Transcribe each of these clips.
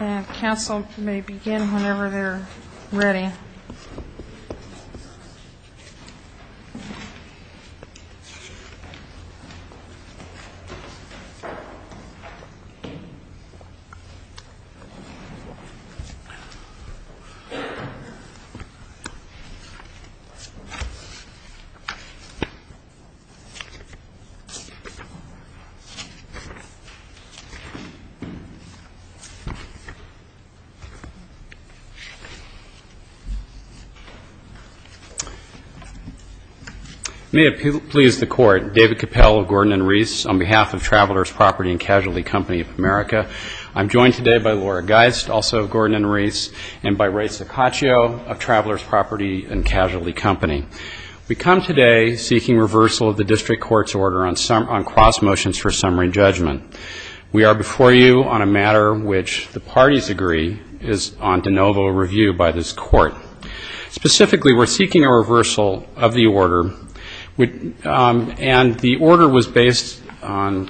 Council may begin whenever they are ready. May it please the Court, David Capell of Gordon and Reese, on behalf of Travelers Property and Casualty Company of America. I'm joined today by Laura Geist, also of Gordon and Reese, and by Ray Sicaccio of Travelers Property and Casualty Company. We come today seeking reversal of the district court's order on cross motions for summary judgment. We are before you on a matter which the parties agree is on de novo review by this court. Specifically, we're seeking a reversal of the order, and the order was based on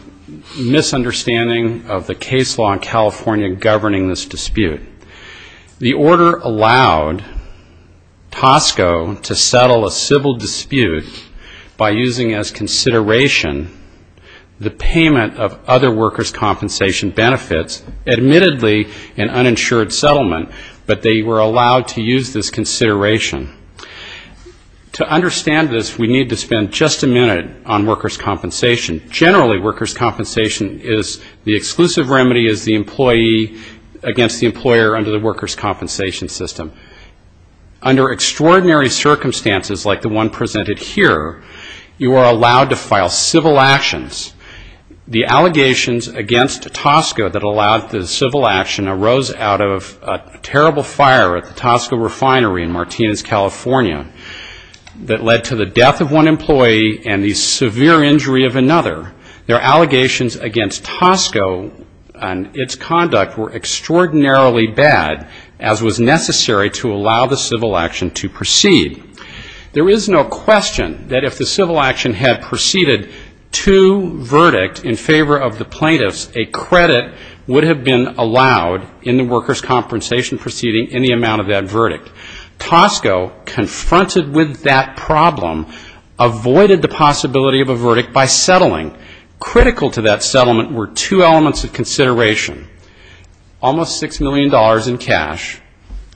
misunderstanding of the case law in California governing this dispute. The order allowed Tosco to settle a civil dispute by using as consideration the payment of other workers' compensation benefits, admittedly an uninsured settlement, but they were allowed to use this consideration. To understand this, we need to spend just a minute on workers' compensation. Generally, workers' compensation is the exclusive remedy is the employee against the employer under the workers' compensation system. Under extraordinary circumstances, like the one presented here, you are allowed to file civil actions. The allegations against Tosco that allowed the civil action arose out of a terrible fire at the Tosco Refinery in Martinez, California, that led to the death of one employee and the severe injury of another. Their allegations against Tosco and its conduct were extraordinarily bad, as was necessary to allow the civil action to proceed. There is no question that if the civil action had proceeded to verdict in favor of the plaintiffs, a credit would have been allowed in the workers' compensation proceeding in the amount of that verdict. Tosco, confronted with that problem, avoided the possibility of a verdict by settling. Critical to that settlement were two elements of consideration. Almost $6 million in cash.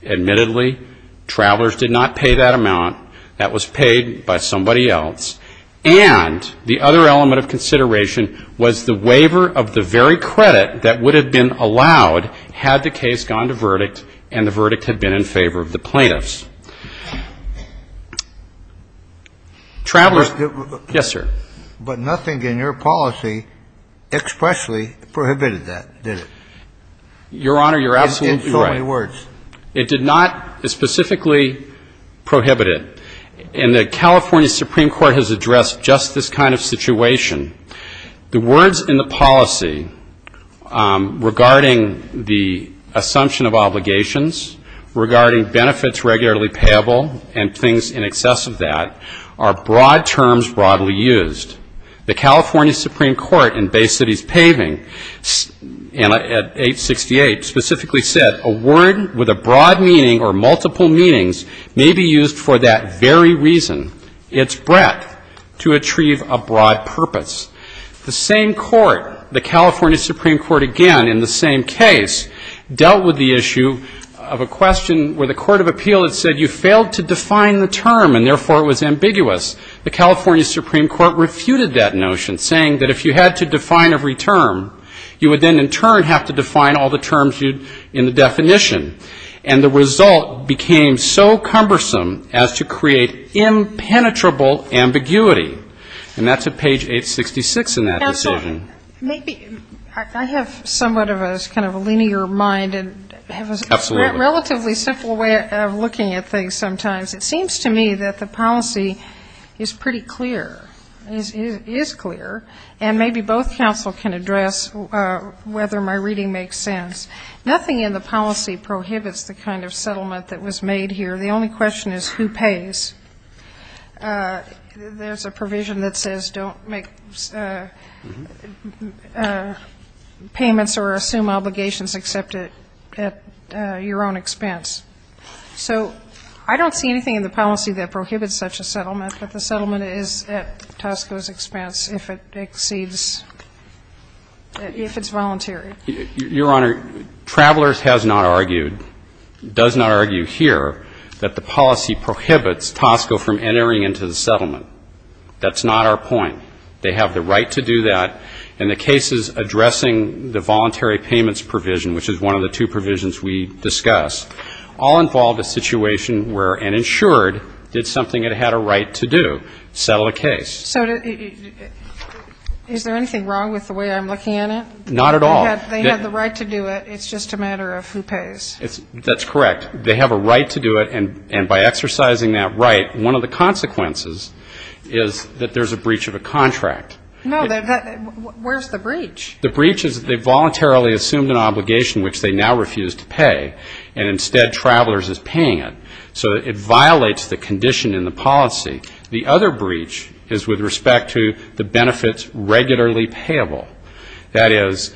Admittedly, travelers did not pay that amount. That was paid by somebody else. And the other element of consideration was the waiver of the very credit that would have been allowed had the case gone to verdict and the verdict had been in favor of the plaintiffs. Travelers Yes, sir. But nothing in your policy expressly prohibited that, did it? Your Honor, you're absolutely right. In so many words. It did not specifically prohibit it. And the California Supreme Court has addressed just this kind of situation. The words in the policy regarding the assumption of obligations, regarding benefits regularly payable and things in excess of that, are broad terms broadly used. The California Supreme Court in Bay City's paving at 868 specifically said, a word with a broad meaning or multiple meanings may be used for that very reason, its breadth, to achieve a broad purpose. The same court, the California Supreme Court again in the same case, dealt with the issue of a question where the court of appeal had said you failed to define the term and therefore it was ambiguous. The California Supreme Court refuted that notion saying that if you had to define every term, you would then in turn have to define all the terms in the definition. And the result became so cumbersome as to create impenetrable ambiguity. And that's at page 866 in that decision. Maybe I have somewhat of a kind of a linear mind and have a relatively simple way of looking at things sometimes. It seems to me that the policy is pretty clear. It is clear. And maybe both counsel can address whether my reading makes sense. Nothing in the policy prohibits the kind of settlement that was made here. The only question is who pays. There's a provision that says don't make payments or assume obligations except at your own expense. So I don't see anything in the policy that prohibits such a settlement. But the settlement is at Tosco's expense if it exceeds, if it's voluntary. Your Honor, Travelers has not argued, does not argue here that the policy prohibits Tosco from entering into the settlement. That's not our point. They have the right to do that. And the cases addressing the voluntary payments provision, which is one of the two provisions we discussed, all involved a situation where an insured did something it had a right to do, settle a case. So is there anything wrong with the way I'm looking at it? Not at all. They had the right to do it. It's just a matter of who pays. That's correct. They have a right to do it. And by exercising that right, one of the consequences is that there's a breach of a contract. No. Where's the breach? The breach is they voluntarily assumed an obligation which they now refuse to pay. And instead Travelers is paying it. So it violates the condition in the policy. The other breach is with respect to the benefits regularly payable. That is,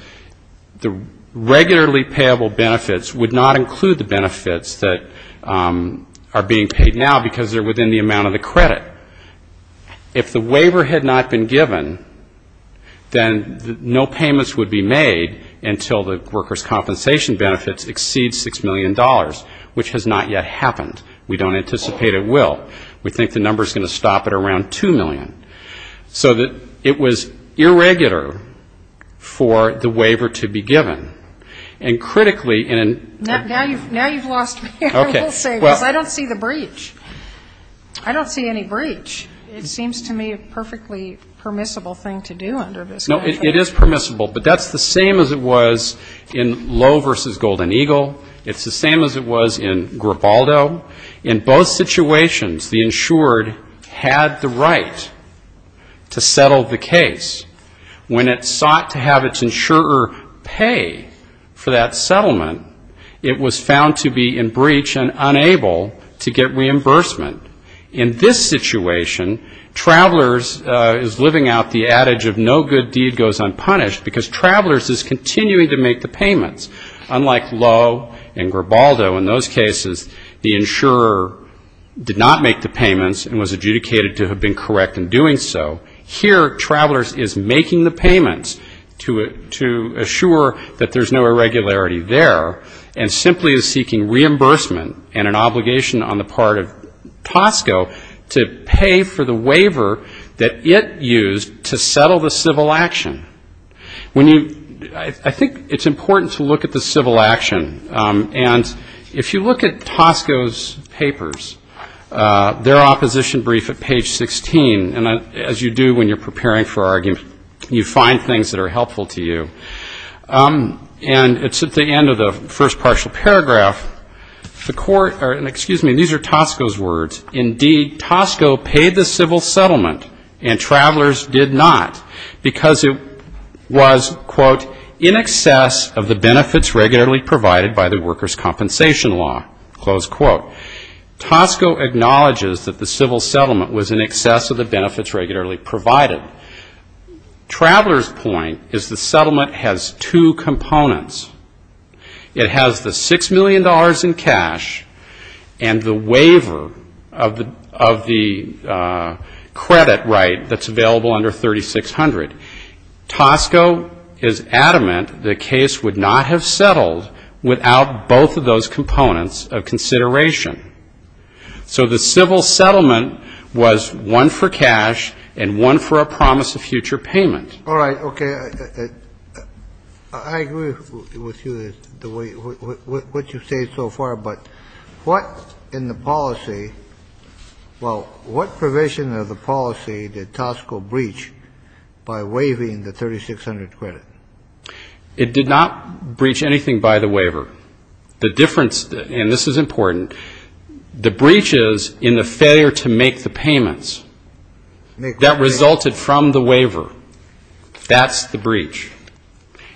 the regularly payable benefits would not include the benefits that are being paid now because they're within the amount of the credit. If the waiver had not been given, then no payments would be made until the workers' compensation benefits exceed $6 million, which has not yet happened. We don't anticipate it will. We think the number is going to stop at around $2 million. So that it was irregular for the waiver to be given. And critically in an Now you've lost me, I will say, because I don't see the breach. I don't see any breach. It seems to me a perfectly permissible thing to do under this condition. No, it is permissible. But that's the same as it was in Lowe v. Golden Eagle. It's the to settle the case. When it sought to have its insurer pay for that settlement, it was found to be in breach and unable to get reimbursement. In this situation, Travelers is living out the adage of no good deed goes unpunished because Travelers is continuing to make the payments. Unlike Lowe and Gribaldo, in those cases the insurer did not make the payments and was adjudicated to have been correct in doing so. Here Travelers is making the payments to assure that there's no irregularity there and simply is seeking reimbursement and an obligation on the part of Tosco to pay for the waiver that it used to settle the civil action. When you, I think it's important to look at the civil action. And if you look at Tosco's papers, their opposition brief at page 16, and as you do when you're preparing for argument, you find things that are helpful to you. And it's at the end of the first partial paragraph, the court, or excuse me, these are Tosco's words. Indeed, Tosco paid the civil settlement and Travelers did not because it was, quote, in excess of the benefits regularly provided by the workers' compensation law, close quote. Tosco acknowledges that the civil settlement was in excess of the benefits regularly provided. Travelers' point is the settlement has two components. It has the $6 million in cash and the waiver of the credit right that's out both of those components of consideration. So the civil settlement was one for cash and one for a promise of future payment. All right. Okay. I agree with you the way, what you say so far, but what in the policy well, what provision of the policy did Tosco breach by waiving the 3600 credit? It did not breach anything by the waiver. The difference, and this is important, the breach is in the failure to make the payments that resulted from the waiver. That's the breach.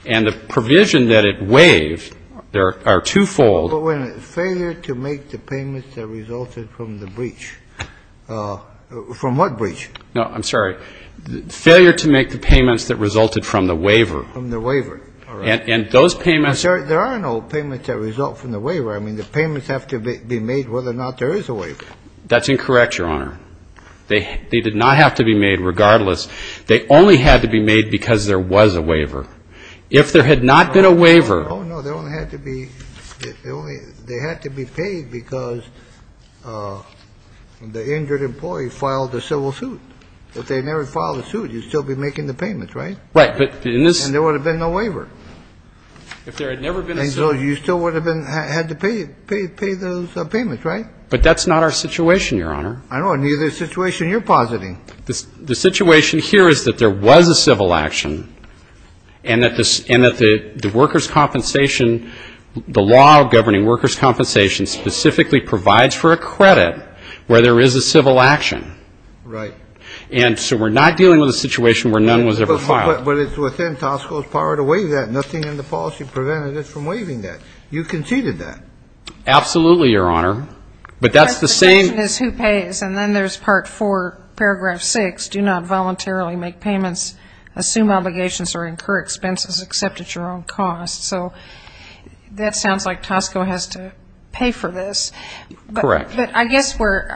And the provision that it waived, there are twofold. But wait a minute. Failure to make the payments that resulted from the breach. From what breach? No, I'm sorry. Failure to make the payments that resulted from the waiver. From the waiver. All right. And those payments There are no payments that result from the waiver. I mean, the payments have to be made whether or not there is a waiver. That's incorrect, Your Honor. They did not have to be made regardless. They only had to be made because there was a waiver. If there had not been a waiver Oh, no. They only had to be paid because the injured employee filed a civil suit. If they never filed a suit, you'd still be making the payments, right? Right. But in this And there would have been no waiver. If there had never been a suit And so you still would have had to pay those payments, right? But that's not our situation, Your Honor. I know. Neither is the situation you're positing. The situation here is that there was a civil action and that the workers' compensation, the law governing workers' compensation, specifically provides for a credit where there is a civil action. Right. And so we're not dealing with a situation where none was ever filed. But it's within Tosco's power to waive that. Nothing in the policy prevented it from waiving that. You conceded that. Absolutely, Your Honor. But that's the same But the question is who pays? And then there's Part 4, Paragraph 6, Do not voluntarily make payments, assume obligations, or incur expenses except at your own cost. So that sounds like Tosco has to pay for this. Correct. But I guess we're,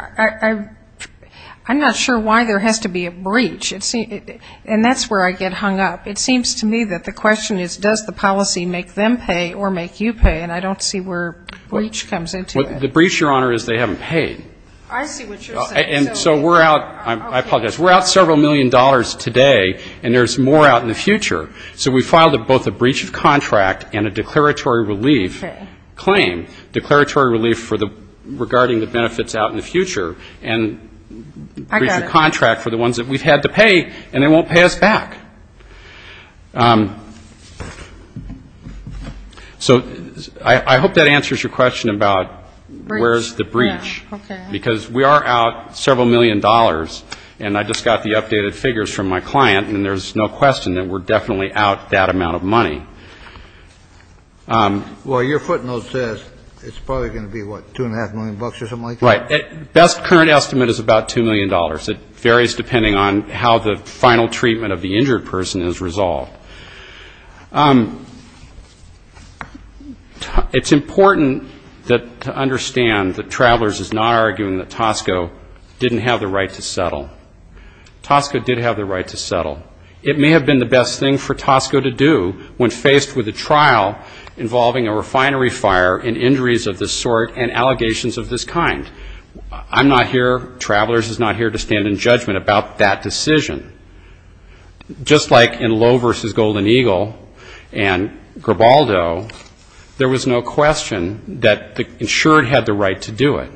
I'm not sure why there has to be a breach. And that's where I get hung up. It seems to me that the question is does the policy make them pay or make you pay? And I don't see where a breach comes into it. The breach, Your Honor, is they haven't paid. I see what you're saying. And so we're out, I apologize, we're out several million dollars today, and there's more out in the future. So we filed both a breach of contract and a declaratory relief claim, declaratory relief regarding the benefits out in the future, and breach of contract for the ones that we've had to pay, and they won't pay us back. So I hope that answers your question about where's the breach. Because we are out several million dollars, and I just got the updated figures from my client, and there's no question that we're definitely out that amount of money. Well, your footnote says it's probably going to be, what, two and a half million bucks or something like that? Right. The best current estimate is about two million dollars. It varies depending on how the final treatment of the injured person is resolved. It's important to understand that Travelers is not arguing that Tosco didn't have the right to settle. Tosco did have the right to settle. It may have been the best thing for Tosco to do when faced with a trial involving a refinery fire and injuries of this sort and allegations of this kind. I'm not here, Travelers is not here, to stand in judgment about that decision. Just like in Lowe v. Golden Eagle and Gribaldo, there was no question that the insured had the right to do it.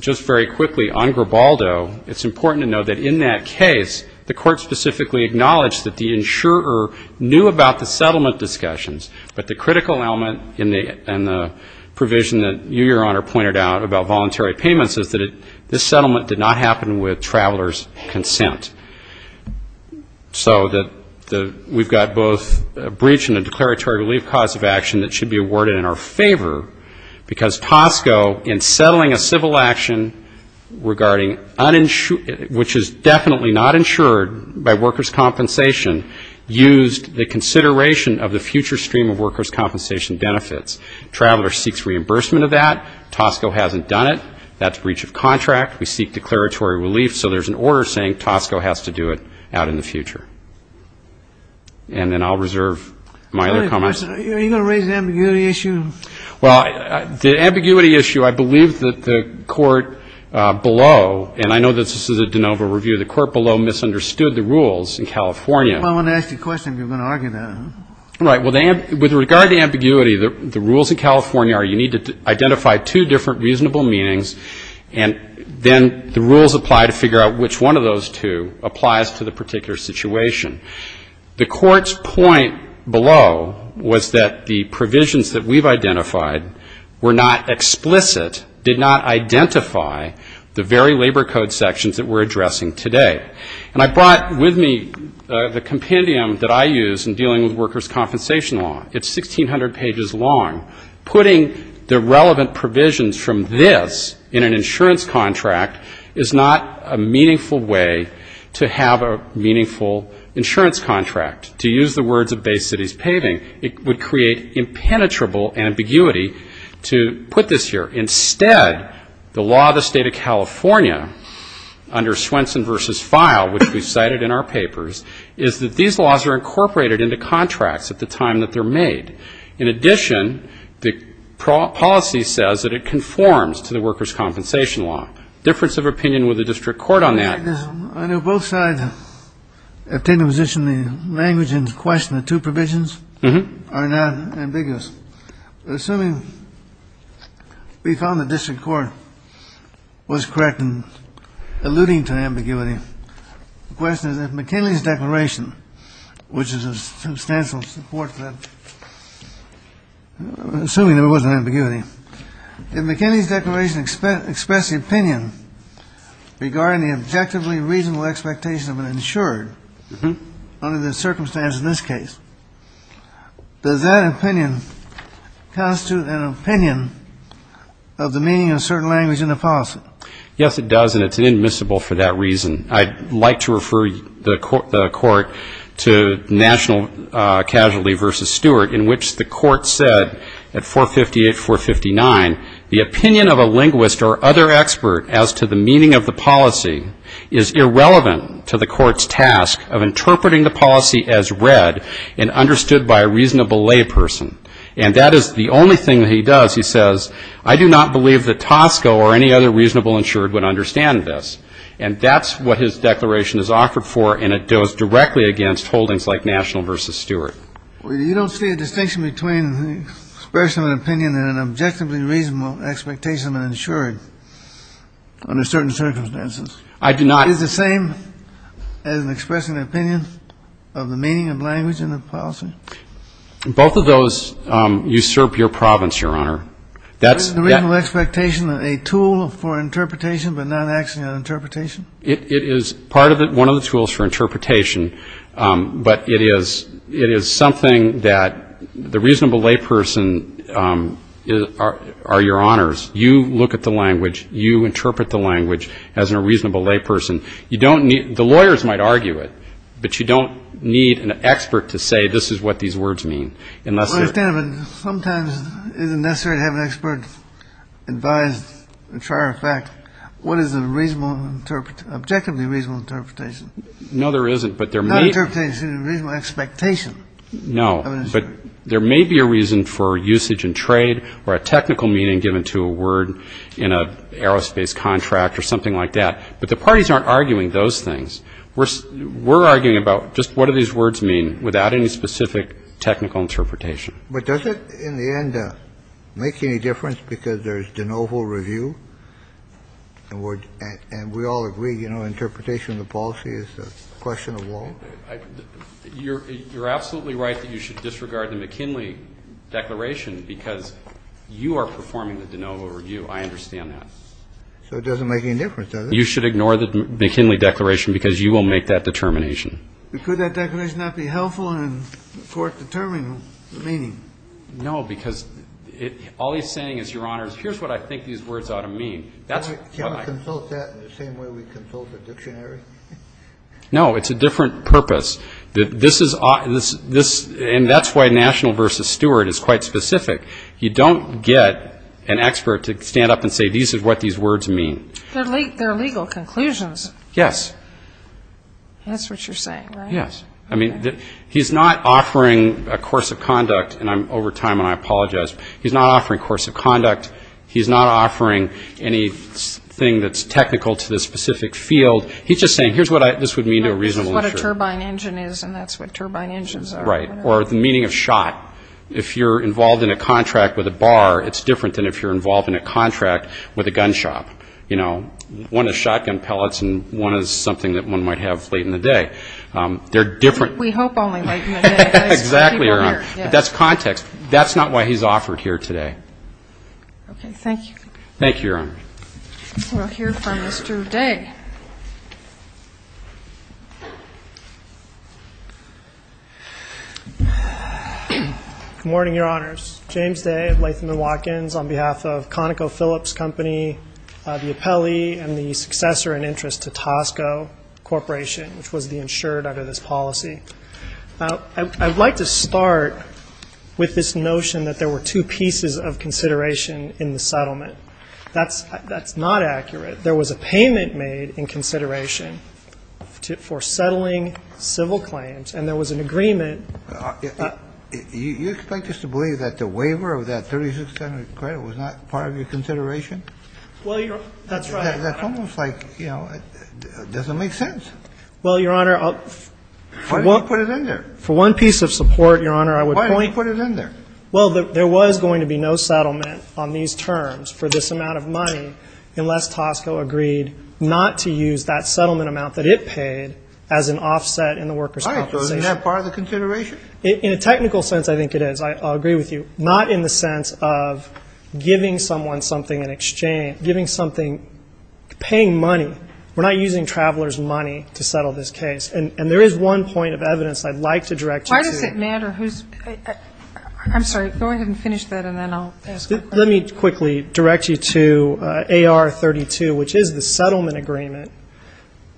Just very quickly, on Gribaldo, it's important to know that in that case, the court specifically acknowledged that the insurer knew about the settlement discussions, but the critical element in the provision that you, Your Honor, pointed out about voluntary payments, is that this settlement did not happen with Travelers' consent. So we've got both a breach and a declaratory relief cause of action that should be awarded in our favor, because Tosco, in settling a civil action regarding, which is definitely not insured by workers' compensation, used the consideration of the future stream of workers' compensation benefits. Travelers seeks reimbursement of that. Tosco hasn't done it. That's breach of contract. We seek declaratory relief. So there's an order saying Tosco has to do it out in the future. And then I'll reserve my other comments. Are you going to raise the ambiguity issue? Well, the ambiguity issue, I believe that the court below, and I know that this is a de novo review, the court below misunderstood the rules in California. If I want to ask you a question, you're going to argue that, huh? Right. With regard to ambiguity, the rules in California are you need to identify two different reasonable meanings, and then the rules apply to figure out which one of those two applies to the particular situation. The court's point below was that the provisions that we've identified were not explicit, did not identify the very labor code sections that we're addressing today. And I brought with me the compendium that I use in dealing with workers' compensation law. It's 1,600 pages long. Putting the relevant provisions from this in an insurance contract is not a meaningful way to have a meaningful insurance contract. To use the words of Bay City's paving, it would create impenetrable ambiguity to put this here. Instead, the law of the state of California under Swenson v. File, which we cited in our papers, is that these laws are incorporated into contracts at the time that they're made. In addition, the policy says that it conforms to the workers' compensation law. Difference of opinion with the district court on that. I know both sides have taken a position. The language in question, the two provisions, are not ambiguous. Assuming we found the district court was correct in alluding to ambiguity, the question is if McKinley's declaration, which is a substantial support for that, assuming there was an ambiguity, if McKinley's declaration expressed the opinion regarding the objectively reasonable expectation of an insurer under the circumstances in this case, does that opinion constitute an opinion of the meaning of a certain language in the policy? Yes, it does, and it's inadmissible for that reason. I'd like to refer the court to National Casualty v. Stewart, in which the court said at 458, 459, the opinion of a linguist or other expert as to the meaning of the policy is irrelevant to the court's task of interpreting the policy as read and understood by a reasonable layperson. And that is the only thing that he does. He says, I do not believe that Tosco or any other reasonable insured would understand this. And that's what his declaration is offered for, and it goes directly against holdings like National v. Stewart. You don't see a distinction between the expression of an opinion and an objectively reasonable expectation of an insurer under certain circumstances? I do not. Is it the same as expressing an opinion of the meaning of language in the policy? Both of those usurp your province, Your Honor. Is the reasonable expectation a tool for interpretation but not actually an interpretation? It is part of it, one of the tools for interpretation, but it is something that the reasonable layperson, Your Honors, you look at the language, you interpret the language as a reasonable layperson. You don't need, the lawyers might argue it, but you don't need an expert to say this is what these words mean. Sometimes it isn't necessary to have an expert advise, and try our facts. What is an objectively reasonable interpretation? No, there isn't. Not interpretation, reasonable expectation. No, but there may be a reason for usage in trade, or a technical meaning given to a word in an aerospace contract or something like that. But the parties aren't arguing those things. We're arguing about just what do these words mean without any specific technical interpretation. But does it, in the end, make any difference because there's de novo review? And we all agree, you know, interpretation of the policy is a question of law. You're absolutely right that you should disregard the McKinley Declaration because you are performing the de novo review. I understand that. So it doesn't make any difference, does it? You should ignore the McKinley Declaration because you will make that determination. But could that declaration not be helpful in court determining the meaning? No, because all he's saying is, Your Honors, here's what I think these words ought to mean. Can we consult that in the same way we consult the dictionary? No, it's a different purpose. And that's why national versus steward is quite specific. You don't get an expert to stand up and say, These are what these words mean. They're legal conclusions. Yes. That's what you're saying, right? Yes. I mean, he's not offering a course of conduct, and I'm over time and I apologize. He's not offering a course of conduct. He's not offering anything that's technical to the specific field. He's just saying, Here's what this would mean to a reasonable insurer. This is what a turbine engine is, and that's what turbine engines are. Right. Or the meaning of shot. If you're involved in a contract with a bar, it's different than if you're involved in a contract with a gun shop. You know, one is shotgun pellets and one is something that one might have late in the day. They're different. We hope only late in the day. Exactly, Your Honor. But that's context. That's not why he's offered here today. Okay. Thank you. Thank you, Your Honor. We'll hear from Mr. Day. Good morning, Your Honors. James Day of Latham & Watkins on behalf of ConocoPhillips Company, the appellee, and the successor in interest to Tosco Corporation, which was the insurer under this policy. I'd like to start with this notion that there were two pieces of consideration in the settlement. That's not accurate. There was a payment made in consideration for settling civil claims, and there was an agreement. You expect us to believe that the waiver of that 3600 credit was not part of your consideration? Well, Your Honor, that's right. That's almost like, you know, it doesn't make sense. Well, Your Honor, for one piece of support, Your Honor, I would point to… Why didn't you put it in there? Well, there was going to be no settlement on these terms for this amount of money unless Tosco agreed not to use that settlement amount that it paid as an offset in the workers' compensation. All right, so isn't that part of the consideration? In a technical sense, I think it is. I'll agree with you. Not in the sense of giving someone something in exchange, giving something, paying money. We're not using travelers' money to settle this case. And there is one point of evidence I'd like to direct you to. Why does it matter who's… I'm sorry. Go ahead and finish that, and then I'll ask. Let me quickly direct you to AR 32, which is the settlement agreement.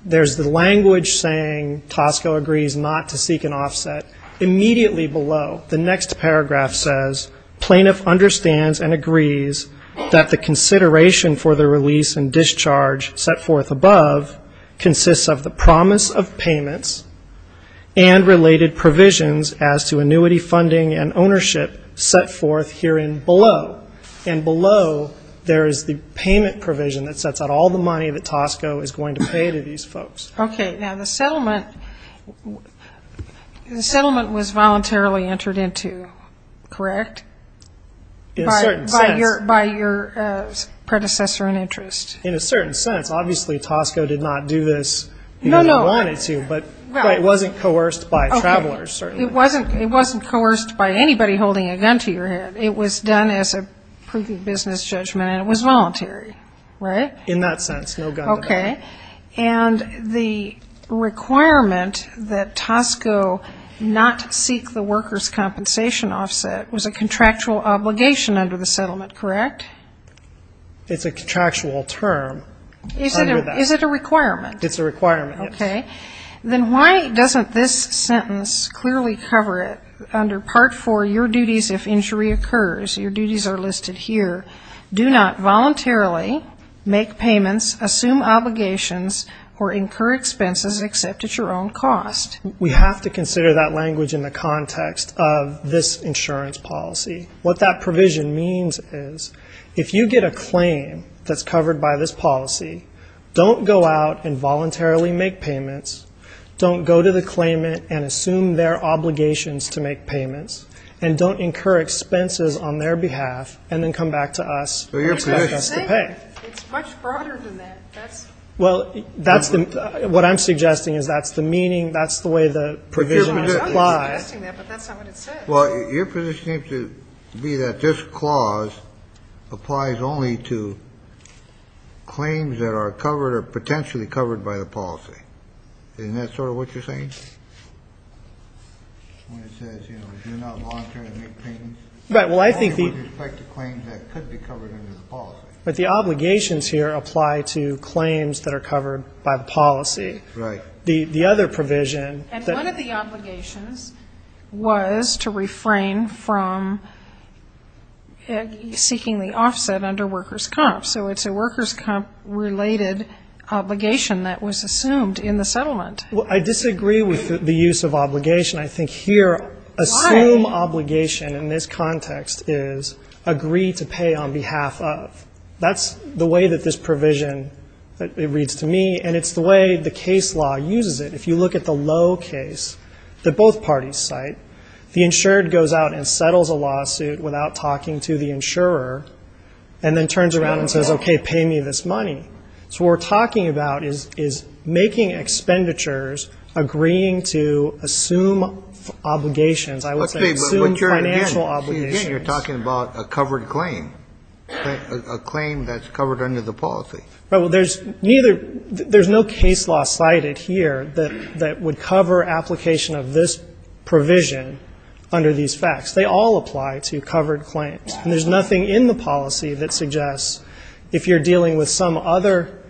There's the language saying Tosco agrees not to seek an offset. Immediately below, the next paragraph says, Plaintiff understands and agrees that the consideration for the release and discharge set forth above consists of the promise of payments and related provisions as to annuity funding and ownership set forth herein below. And below, there is the payment provision that sets out all the money that Tosco is going to pay to these folks. Okay. Now, the settlement was voluntarily entered into, correct? In a certain sense. By your predecessor in interest. In a certain sense. Obviously, Tosco did not do this even if he wanted to, but it wasn't coerced by travelers, certainly. It wasn't coerced by anybody holding a gun to your head. It was done as a proof of business judgment, and it was voluntary, right? In that sense. Okay. And the requirement that Tosco not seek the workers' compensation offset was a contractual obligation under the settlement, correct? It's a contractual term. Is it a requirement? It's a requirement, yes. Okay. Then why doesn't this sentence clearly cover it under Part 4, your duties if injury occurs? Your duties are listed here. Do not voluntarily make payments, assume obligations, or incur expenses except at your own cost. We have to consider that language in the context of this insurance policy. What that provision means is if you get a claim that's covered by this policy, don't go out and voluntarily make payments, don't go to the claimant and assume their obligations to make payments, and don't incur expenses on their behalf, and then come back to us and expect us to pay. It's much broader than that. Well, what I'm suggesting is that's the meaning, that's the way the provision would apply. I know you're suggesting that, but that's not what it says. Well, your position seems to be that this clause applies only to claims that are covered or potentially covered by the policy. Isn't that sort of what you're saying? When it says, you know, do not voluntarily make payments? Right, well, I think the... Only with respect to claims that could be covered under the policy. But the obligations here apply to claims that are covered by the policy. Right. The other provision... And one of the obligations was to refrain from seeking the offset under workers' comp, so it's a workers' comp-related obligation that was assumed in the settlement. Well, I disagree with the use of obligation. I think here... Why? Assume obligation in this context is agree to pay on behalf of. That's the way that this provision reads to me, and it's the way the case law uses it. If you look at the low case that both parties cite, the insured goes out and settles a lawsuit without talking to the insurer, and then turns around and says, okay, pay me this money. So what we're talking about is making expenditures agreeing to assume obligations. I would say assume financial obligations. Okay, but what you're, again, you're talking about a covered claim, a claim that's covered under the policy. Right. Well, there's neither... There's no case law cited here that would cover application of this provision under these facts. They all apply to covered claims. There's nothing in the policy that suggests if you're dealing with some other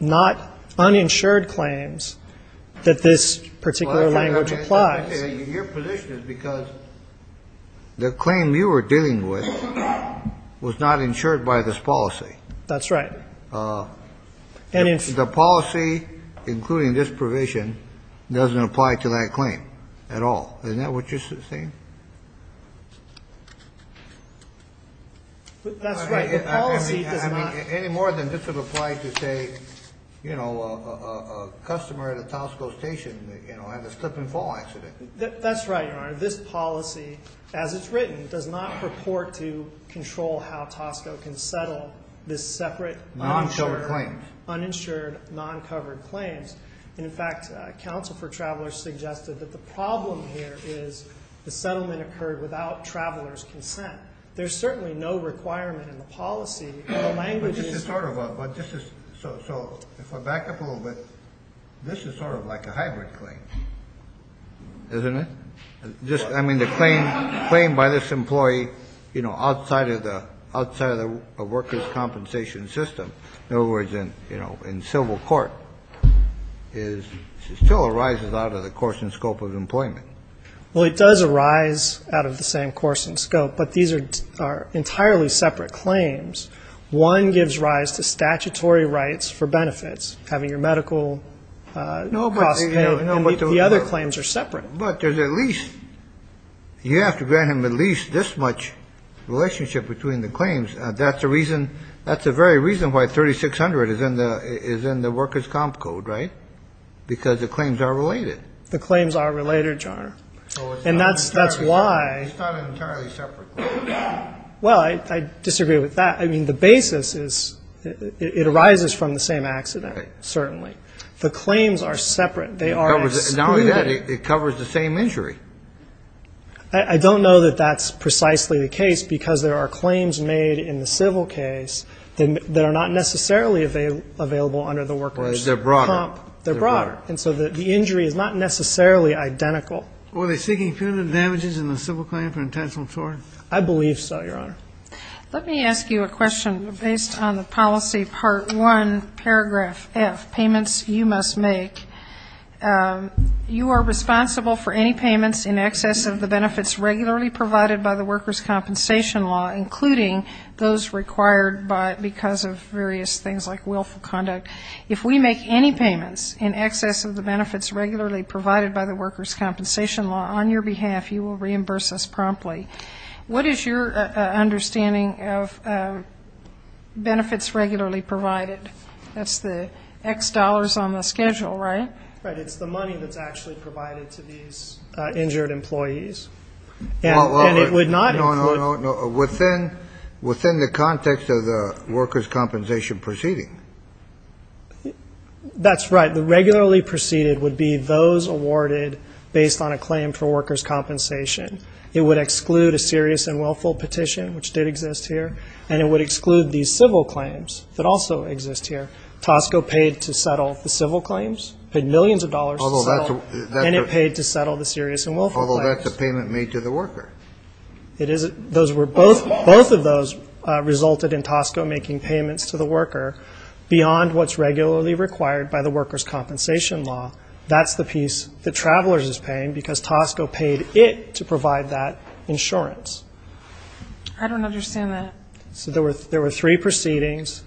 not uninsured claims that this particular language applies. Your position is because the claim you were dealing with was not insured by this policy. That's right. The policy, including this provision, doesn't apply to that claim at all. Isn't that what you're saying? That's right. The policy does not... I mean, any more than this would apply to say, you know, a customer at a Tosco station, you know, had a slip and fall accident. That's right, Your Honor. This policy, as it's written, does not purport to control how Tosco can settle this separate... Non-covered claims. Uninsured, non-covered claims. And, in fact, counsel for travelers suggested that the problem here is the settlement occurred without travelers' consent. There's certainly no requirement in the policy... But this is sort of a... But this is... So, if I back up a little bit, this is sort of like a hybrid claim, isn't it? I mean, the claim by this employee, you know, outside of the workers' compensation system. In other words, you know, in civil court, it still arises out of the course and scope of employment. Well, it does arise out of the same course and scope, but these are entirely separate claims. One gives rise to statutory rights for benefits, having your medical costs paid, and the other claims are separate. But there's at least... You have to grant him at least this much relationship between the claims. That's the reason... That's the very reason why 3600 is in the workers' comp code, right? Because the claims are related. The claims are related, Your Honor. And that's why... It's not an entirely separate claim. Well, I disagree with that. I mean, the basis is it arises from the same accident, certainly. The claims are separate. They are excluded. Not only that, it covers the same injury. I don't know that that's precisely the case because there are claims made in the civil case that are not necessarily available under the workers' comp. They're broader. They're broader. And so the injury is not necessarily identical. Were they seeking punitive damages in the civil claim for intentional fraud? I believe so, Your Honor. Let me ask you a question based on the policy part one, paragraph F, payments you must make. You are responsible for any payments in excess of the benefits regularly provided by the workers' compensation law, including those required because of various things like willful conduct. If we make any payments in excess of the benefits regularly provided by the workers' compensation law on your behalf, you will reimburse us promptly. What is your understanding of benefits regularly provided? That's the X dollars on the schedule, right? Right. It's the money that's actually provided to these injured employees. No, no, no. Within the context of the workers' compensation proceeding. That's right. The regularly proceeded would be those awarded based on a claim for workers' compensation. It would exclude a serious and willful petition, which did exist here. And it would exclude these civil claims that also exist here. Tosco paid to settle the civil claims, paid millions of dollars to settle, and it paid to settle the serious and willful claims. Although that's a payment made to the worker. Both of those resulted in Tosco making payments to the worker beyond what's regularly required by the workers' compensation law. That's the piece that Travelers is paying because Tosco paid it to provide that insurance. I don't understand that. So there were three proceedings.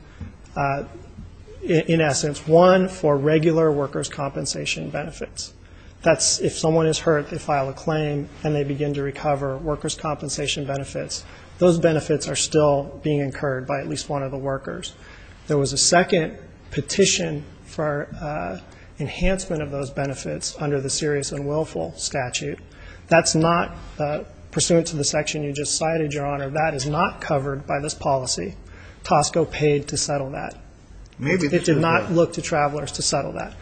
In essence, one for regular workers' compensation benefits. That's if someone is hurt, they file a claim, and they begin to recover workers' compensation benefits. Those benefits are still being incurred by at least one of the workers. There was a second petition for enhancement of those benefits under the serious and willful statute. That's not pursuant to the section you just cited, Your Honor. That is not covered by this policy. Tosco paid to settle that. It did not look to Travelers to settle that.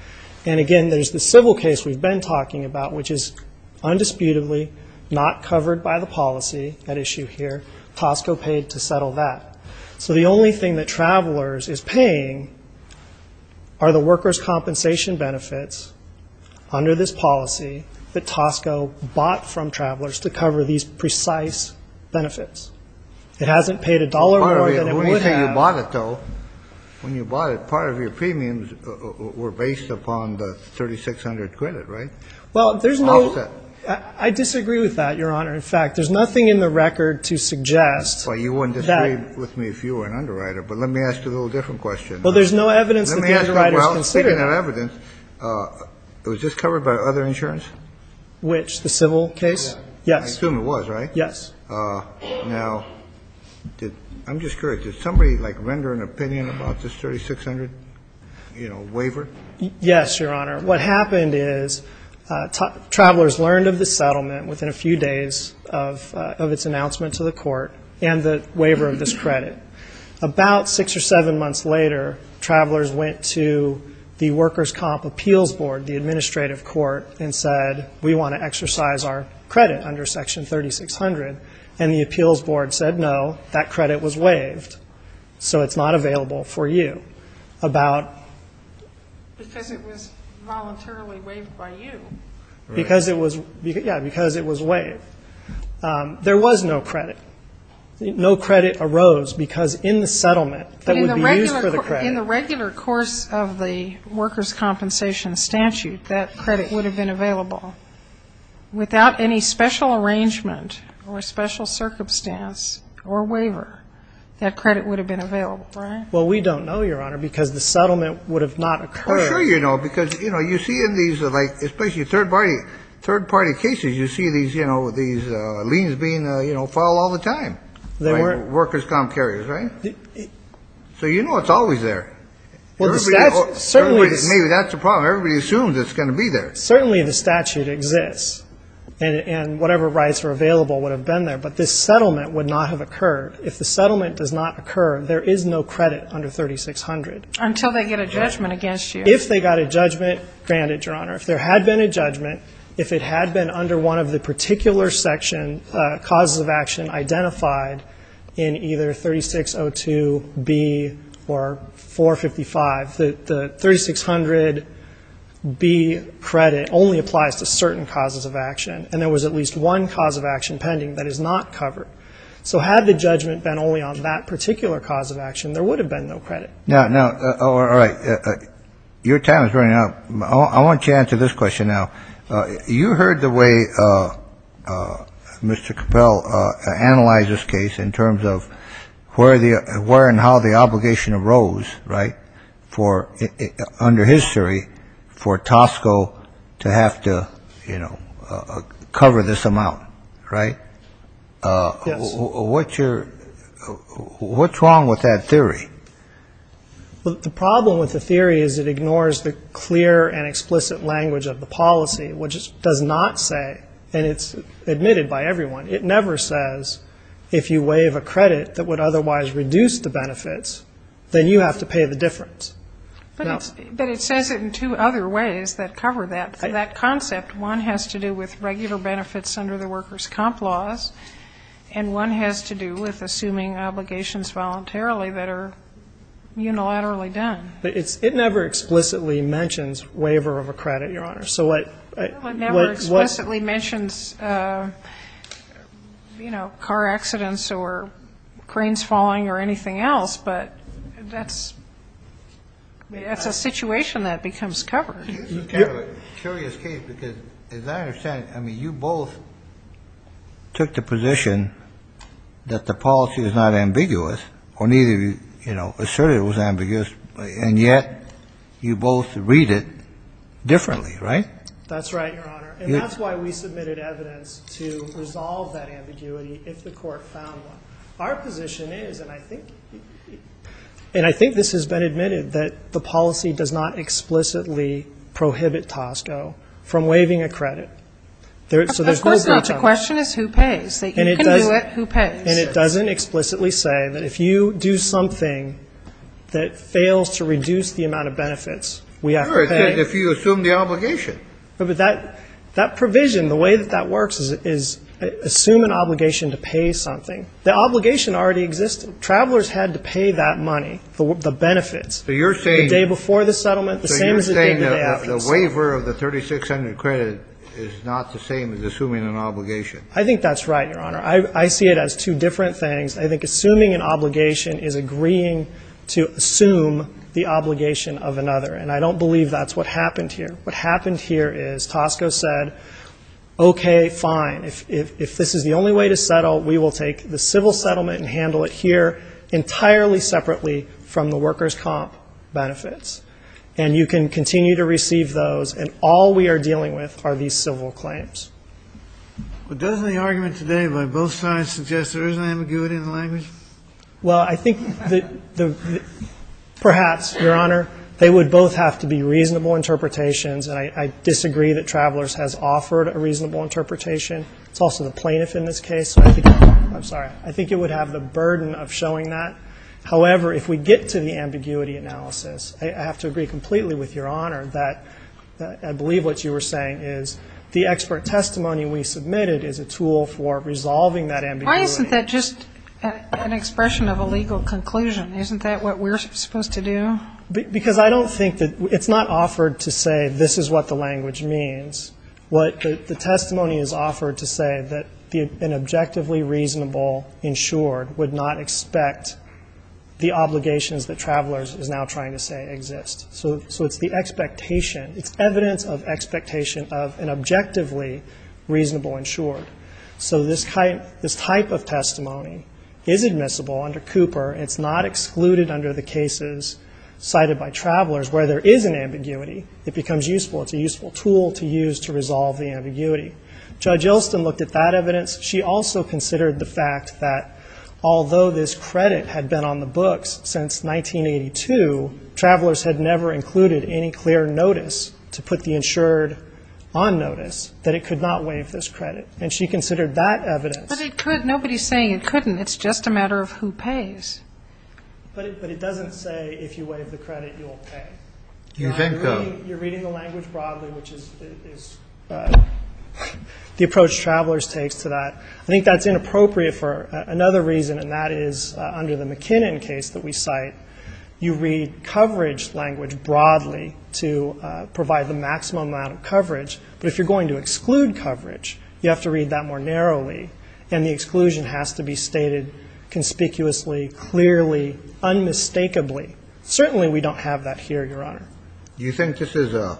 And again, there's the civil case we've been talking about, which is undisputedly not covered by the policy at issue here. Tosco paid to settle that. So the only thing that Travelers is paying are the workers' compensation benefits under this policy that Tosco bought from Travelers to cover these precise benefits. It hasn't paid a dollar more than it would have. When you say you bought it, though, when you bought it, part of your premiums were based upon the $3,600 credit, right? Well, there's no – I disagree with that, Your Honor. In fact, there's nothing in the record to suggest that – Well, you wouldn't disagree with me if you were an underwriter. But let me ask you a little different question. Well, there's no evidence that the underwriter's considered – Well, considering that evidence, was this covered by other insurance? Which? The civil case? Yes. I assume it was, right? Yes. Now, I'm just curious. Did somebody, like, render an opinion about this $3,600, you know, waiver? Yes, Your Honor. What happened is Travelers learned of the settlement within a few days of its announcement to the court and the waiver of this credit. About six or seven months later, Travelers went to the Workers' Comp Appeals Board, the administrative court, and said, we want to exercise our credit under Section 3600. And the Appeals Board said, no, that credit was waived, so it's not available for you. About – Because it was voluntarily waived by you. Because it was – yeah, because it was waived. There was no credit. No credit arose because in the settlement that would be used for the credit – In the regular course of the Workers' Compensation statute, that credit would have been available. Without any special arrangement or special circumstance or waiver, that credit would have been available, right? Well, we don't know, Your Honor, because the settlement would have not occurred. Well, sure you know, because, you know, you see in these, like, especially third-party cases, you see these, you know, these liens being, you know, filed all the time. Workers' Comp carriers, right? So you know it's always there. Well, the statute – Maybe that's the problem. Everybody assumes it's going to be there. Certainly the statute exists. And whatever rights were available would have been there. But this settlement would not have occurred. If the settlement does not occur, there is no credit under 3600. Until they get a judgment against you. If they got a judgment, granted, Your Honor. If there had been a judgment, if it had been under one of the particular section, causes of action identified in either 3602B or 455, the 3600B credit only applies to certain causes of action. And there was at least one cause of action pending that is not covered. So had the judgment been only on that particular cause of action, there would have been no credit. Now, all right. Your time is running out. I want you to answer this question now. You heard the way Mr. Capel analyzed this case in terms of where and how the obligation arose, right? Under his theory, for Tosco to have to, you know, cover this amount, right? Yes. What's wrong with that theory? The problem with the theory is it ignores the clear and explicit language of the policy, which does not say, and it's admitted by everyone, it never says, if you waive a credit that would otherwise reduce the benefits, then you have to pay the difference. But it says it in two other ways that cover that. For that concept, one has to do with regular benefits under the workers' comp laws, and one has to do with assuming obligations voluntarily that are unilaterally done. But it never explicitly mentions waiver of a credit, Your Honor. It never explicitly mentions, you know, car accidents or cranes falling or anything else, but that's a situation that becomes covered. This is kind of a curious case because, as I understand it, I mean, you both took the position that the policy was not ambiguous, or neither of you, you know, asserted it was ambiguous, and yet you both read it differently, right? That's right, Your Honor. And that's why we submitted evidence to resolve that ambiguity if the Court found one. Our position is, and I think this has been admitted, that the policy does not explicitly prohibit Tosco from waiving a credit. Of course not. The question is who pays. You can do it. Who pays? And it doesn't explicitly say that if you do something that fails to reduce the amount of benefits, we have to pay. Sure, if you assume the obligation. But that provision, the way that that works is assume an obligation to pay something. The obligation already existed. Travelers had to pay that money, the benefits, the day before the settlement. So you're saying that the waiver of the $3,600 credit is not the same as assuming an obligation. I think that's right, Your Honor. I see it as two different things. I think assuming an obligation is agreeing to assume the obligation of another, and I don't believe that's what happened here. What happened here is Tosco said, okay, fine, if this is the only way to settle, we will take the civil settlement and handle it here entirely separately from the workers' comp benefits. And you can continue to receive those, and all we are dealing with are these civil claims. But doesn't the argument today by both sides suggest there isn't ambiguity in the language? Well, I think that perhaps, Your Honor, they would both have to be reasonable interpretations, and I disagree that Travelers has offered a reasonable interpretation. It's also the plaintiff in this case. I'm sorry. I think it would have the burden of showing that. However, if we get to the ambiguity analysis, I have to agree completely with Your Honor that I believe what you were saying is the expert testimony we submitted is a tool for resolving that ambiguity. Why isn't that just an expression of a legal conclusion? Isn't that what we're supposed to do? Because I don't think that it's not offered to say this is what the language means. The testimony is offered to say that an objectively reasonable insured would not expect the obligations that Travelers is now trying to say exist. So it's the expectation. It's evidence of expectation of an objectively reasonable insured. So this type of testimony is admissible under Cooper. It's not excluded under the cases cited by Travelers where there is an ambiguity. It becomes useful. It's a useful tool to use to resolve the ambiguity. Judge Yelston looked at that evidence. She also considered the fact that although this credit had been on the books since 1982, Travelers had never included any clear notice to put the insured on notice, that it could not waive this credit, and she considered that evidence. But it could. Nobody's saying it couldn't. It's just a matter of who pays. But it doesn't say if you waive the credit, you'll pay. You're reading the language broadly, which is the approach Travelers takes to that. I think that's inappropriate for another reason, and that is under the McKinnon case that we cite. You read coverage language broadly to provide the maximum amount of coverage. But if you're going to exclude coverage, you have to read that more narrowly, and the exclusion has to be stated conspicuously, clearly, unmistakably. Certainly we don't have that here, Your Honor. Do you think this is an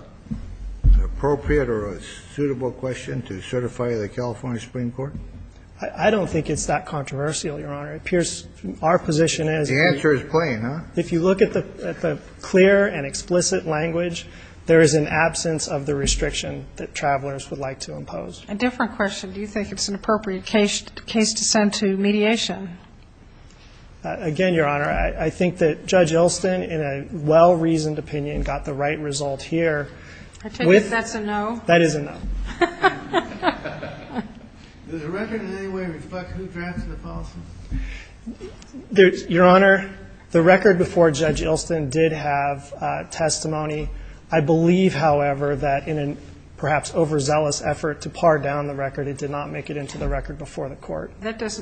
appropriate or a suitable question to certify the California Supreme Court? I don't think it's that controversial, Your Honor. Our position is if you look at the clear and explicit language, there is an absence of the restriction that Travelers would like to impose. A different question. Do you think it's an appropriate case to send to mediation? Again, Your Honor, I think that Judge Ilston, in a well-reasoned opinion, got the right result here. I take it that's a no? That is a no. Does the record in any way reflect who drafted the policy? Your Honor, the record before Judge Ilston did have testimony. I believe, however, that in a perhaps overzealous effort to par down the record, it did not make it into the record before the court.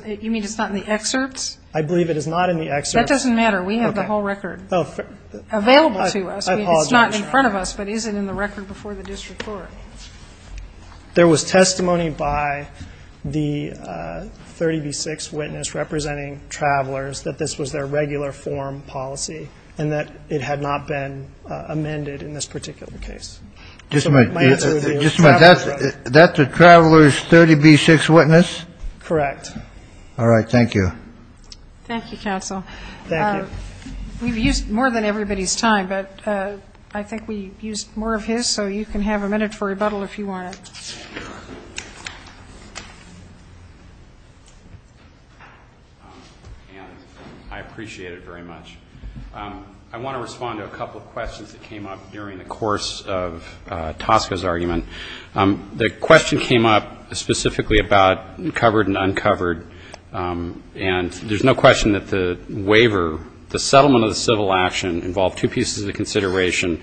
You mean it's not in the excerpts? I believe it is not in the excerpts. That doesn't matter. We have the whole record available to us. I apologize, Your Honor. It's not in front of us, but is it in the record before the district court? There was testimony by the 30B6 witness representing Travelers that this was their regular form policy and that it had not been amended in this particular case. Just a minute. That's a Travelers 30B6 witness? Correct. All right. Thank you. Thank you, counsel. Thank you. We've used more than everybody's time, but I think we used more of his, so you can have a minute for rebuttal if you want it. I appreciate it very much. I want to respond to a couple of questions that came up during the course of Tosca's argument. The question came up specifically about covered and uncovered, and there's no question that the waiver, the settlement of the civil action, involved two pieces of consideration,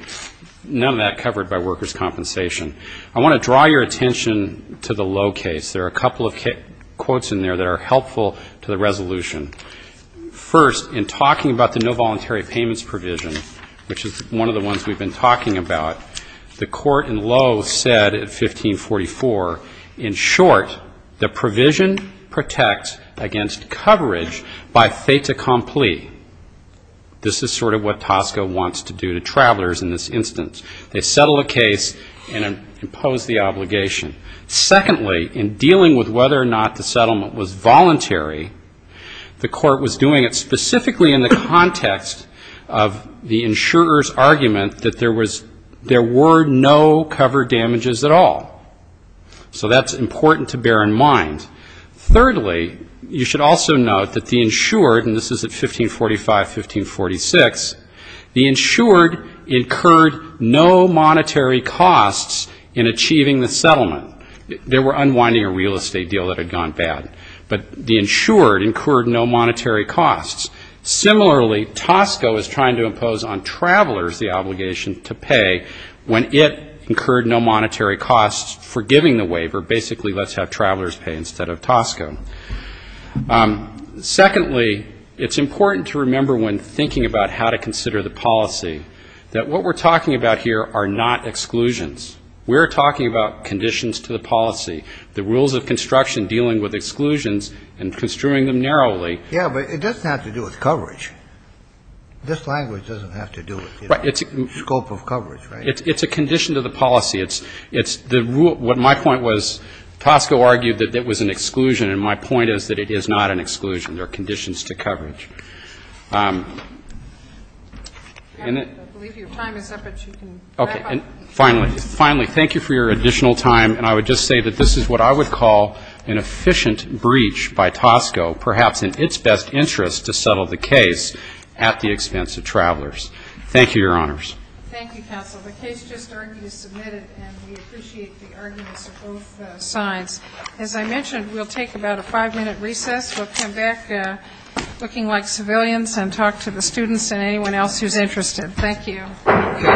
none of that covered by workers' compensation. I want to draw your attention to the Lowe case. There are a couple of quotes in there that are helpful to the resolution. First, in talking about the no voluntary payments provision, which is one of the ones we've been talking about, the court in Lowe said in 1544, in short, the provision protects against coverage by fait accompli. This is sort of what Tosca wants to do to travelers in this instance. They settle a case and impose the obligation. Secondly, in dealing with whether or not the settlement was voluntary, the court was doing it specifically in the context of the insurer's argument that there was, there were no covered damages at all. So that's important to bear in mind. Thirdly, you should also note that the insured, and this is at 1545, 1546, the insured incurred no monetary costs in achieving the settlement. They were unwinding a real estate deal that had gone bad. But the insured incurred no monetary costs. Similarly, Tosca was trying to impose on travelers the obligation to pay when it incurred no monetary costs for giving the waiver. Basically, let's have travelers pay instead of Tosca. Secondly, it's important to remember when thinking about how to consider the policy that what we're talking about here are not exclusions. We're talking about conditions to the policy, the rules of construction dealing with exclusions and construing them narrowly. Yeah, but it doesn't have to do with coverage. This language doesn't have to do with, you know, scope of coverage, right? It's a condition to the policy. It's the rule. What my point was, Tosca argued that it was an exclusion. And my point is that it is not an exclusion. There are conditions to coverage. I believe your time is up, but you can wrap up. Finally, thank you for your additional time. And I would just say that this is what I would call an efficient breach by Tosca, perhaps in its best interest to settle the case at the expense of travelers. Thank you, Your Honors. Thank you, Counsel. The case just argued is submitted, and we appreciate the arguments of both sides. As I mentioned, we'll take about a five-minute recess. We'll come back looking like civilians and talk to the students and anyone else who's interested. Thank you.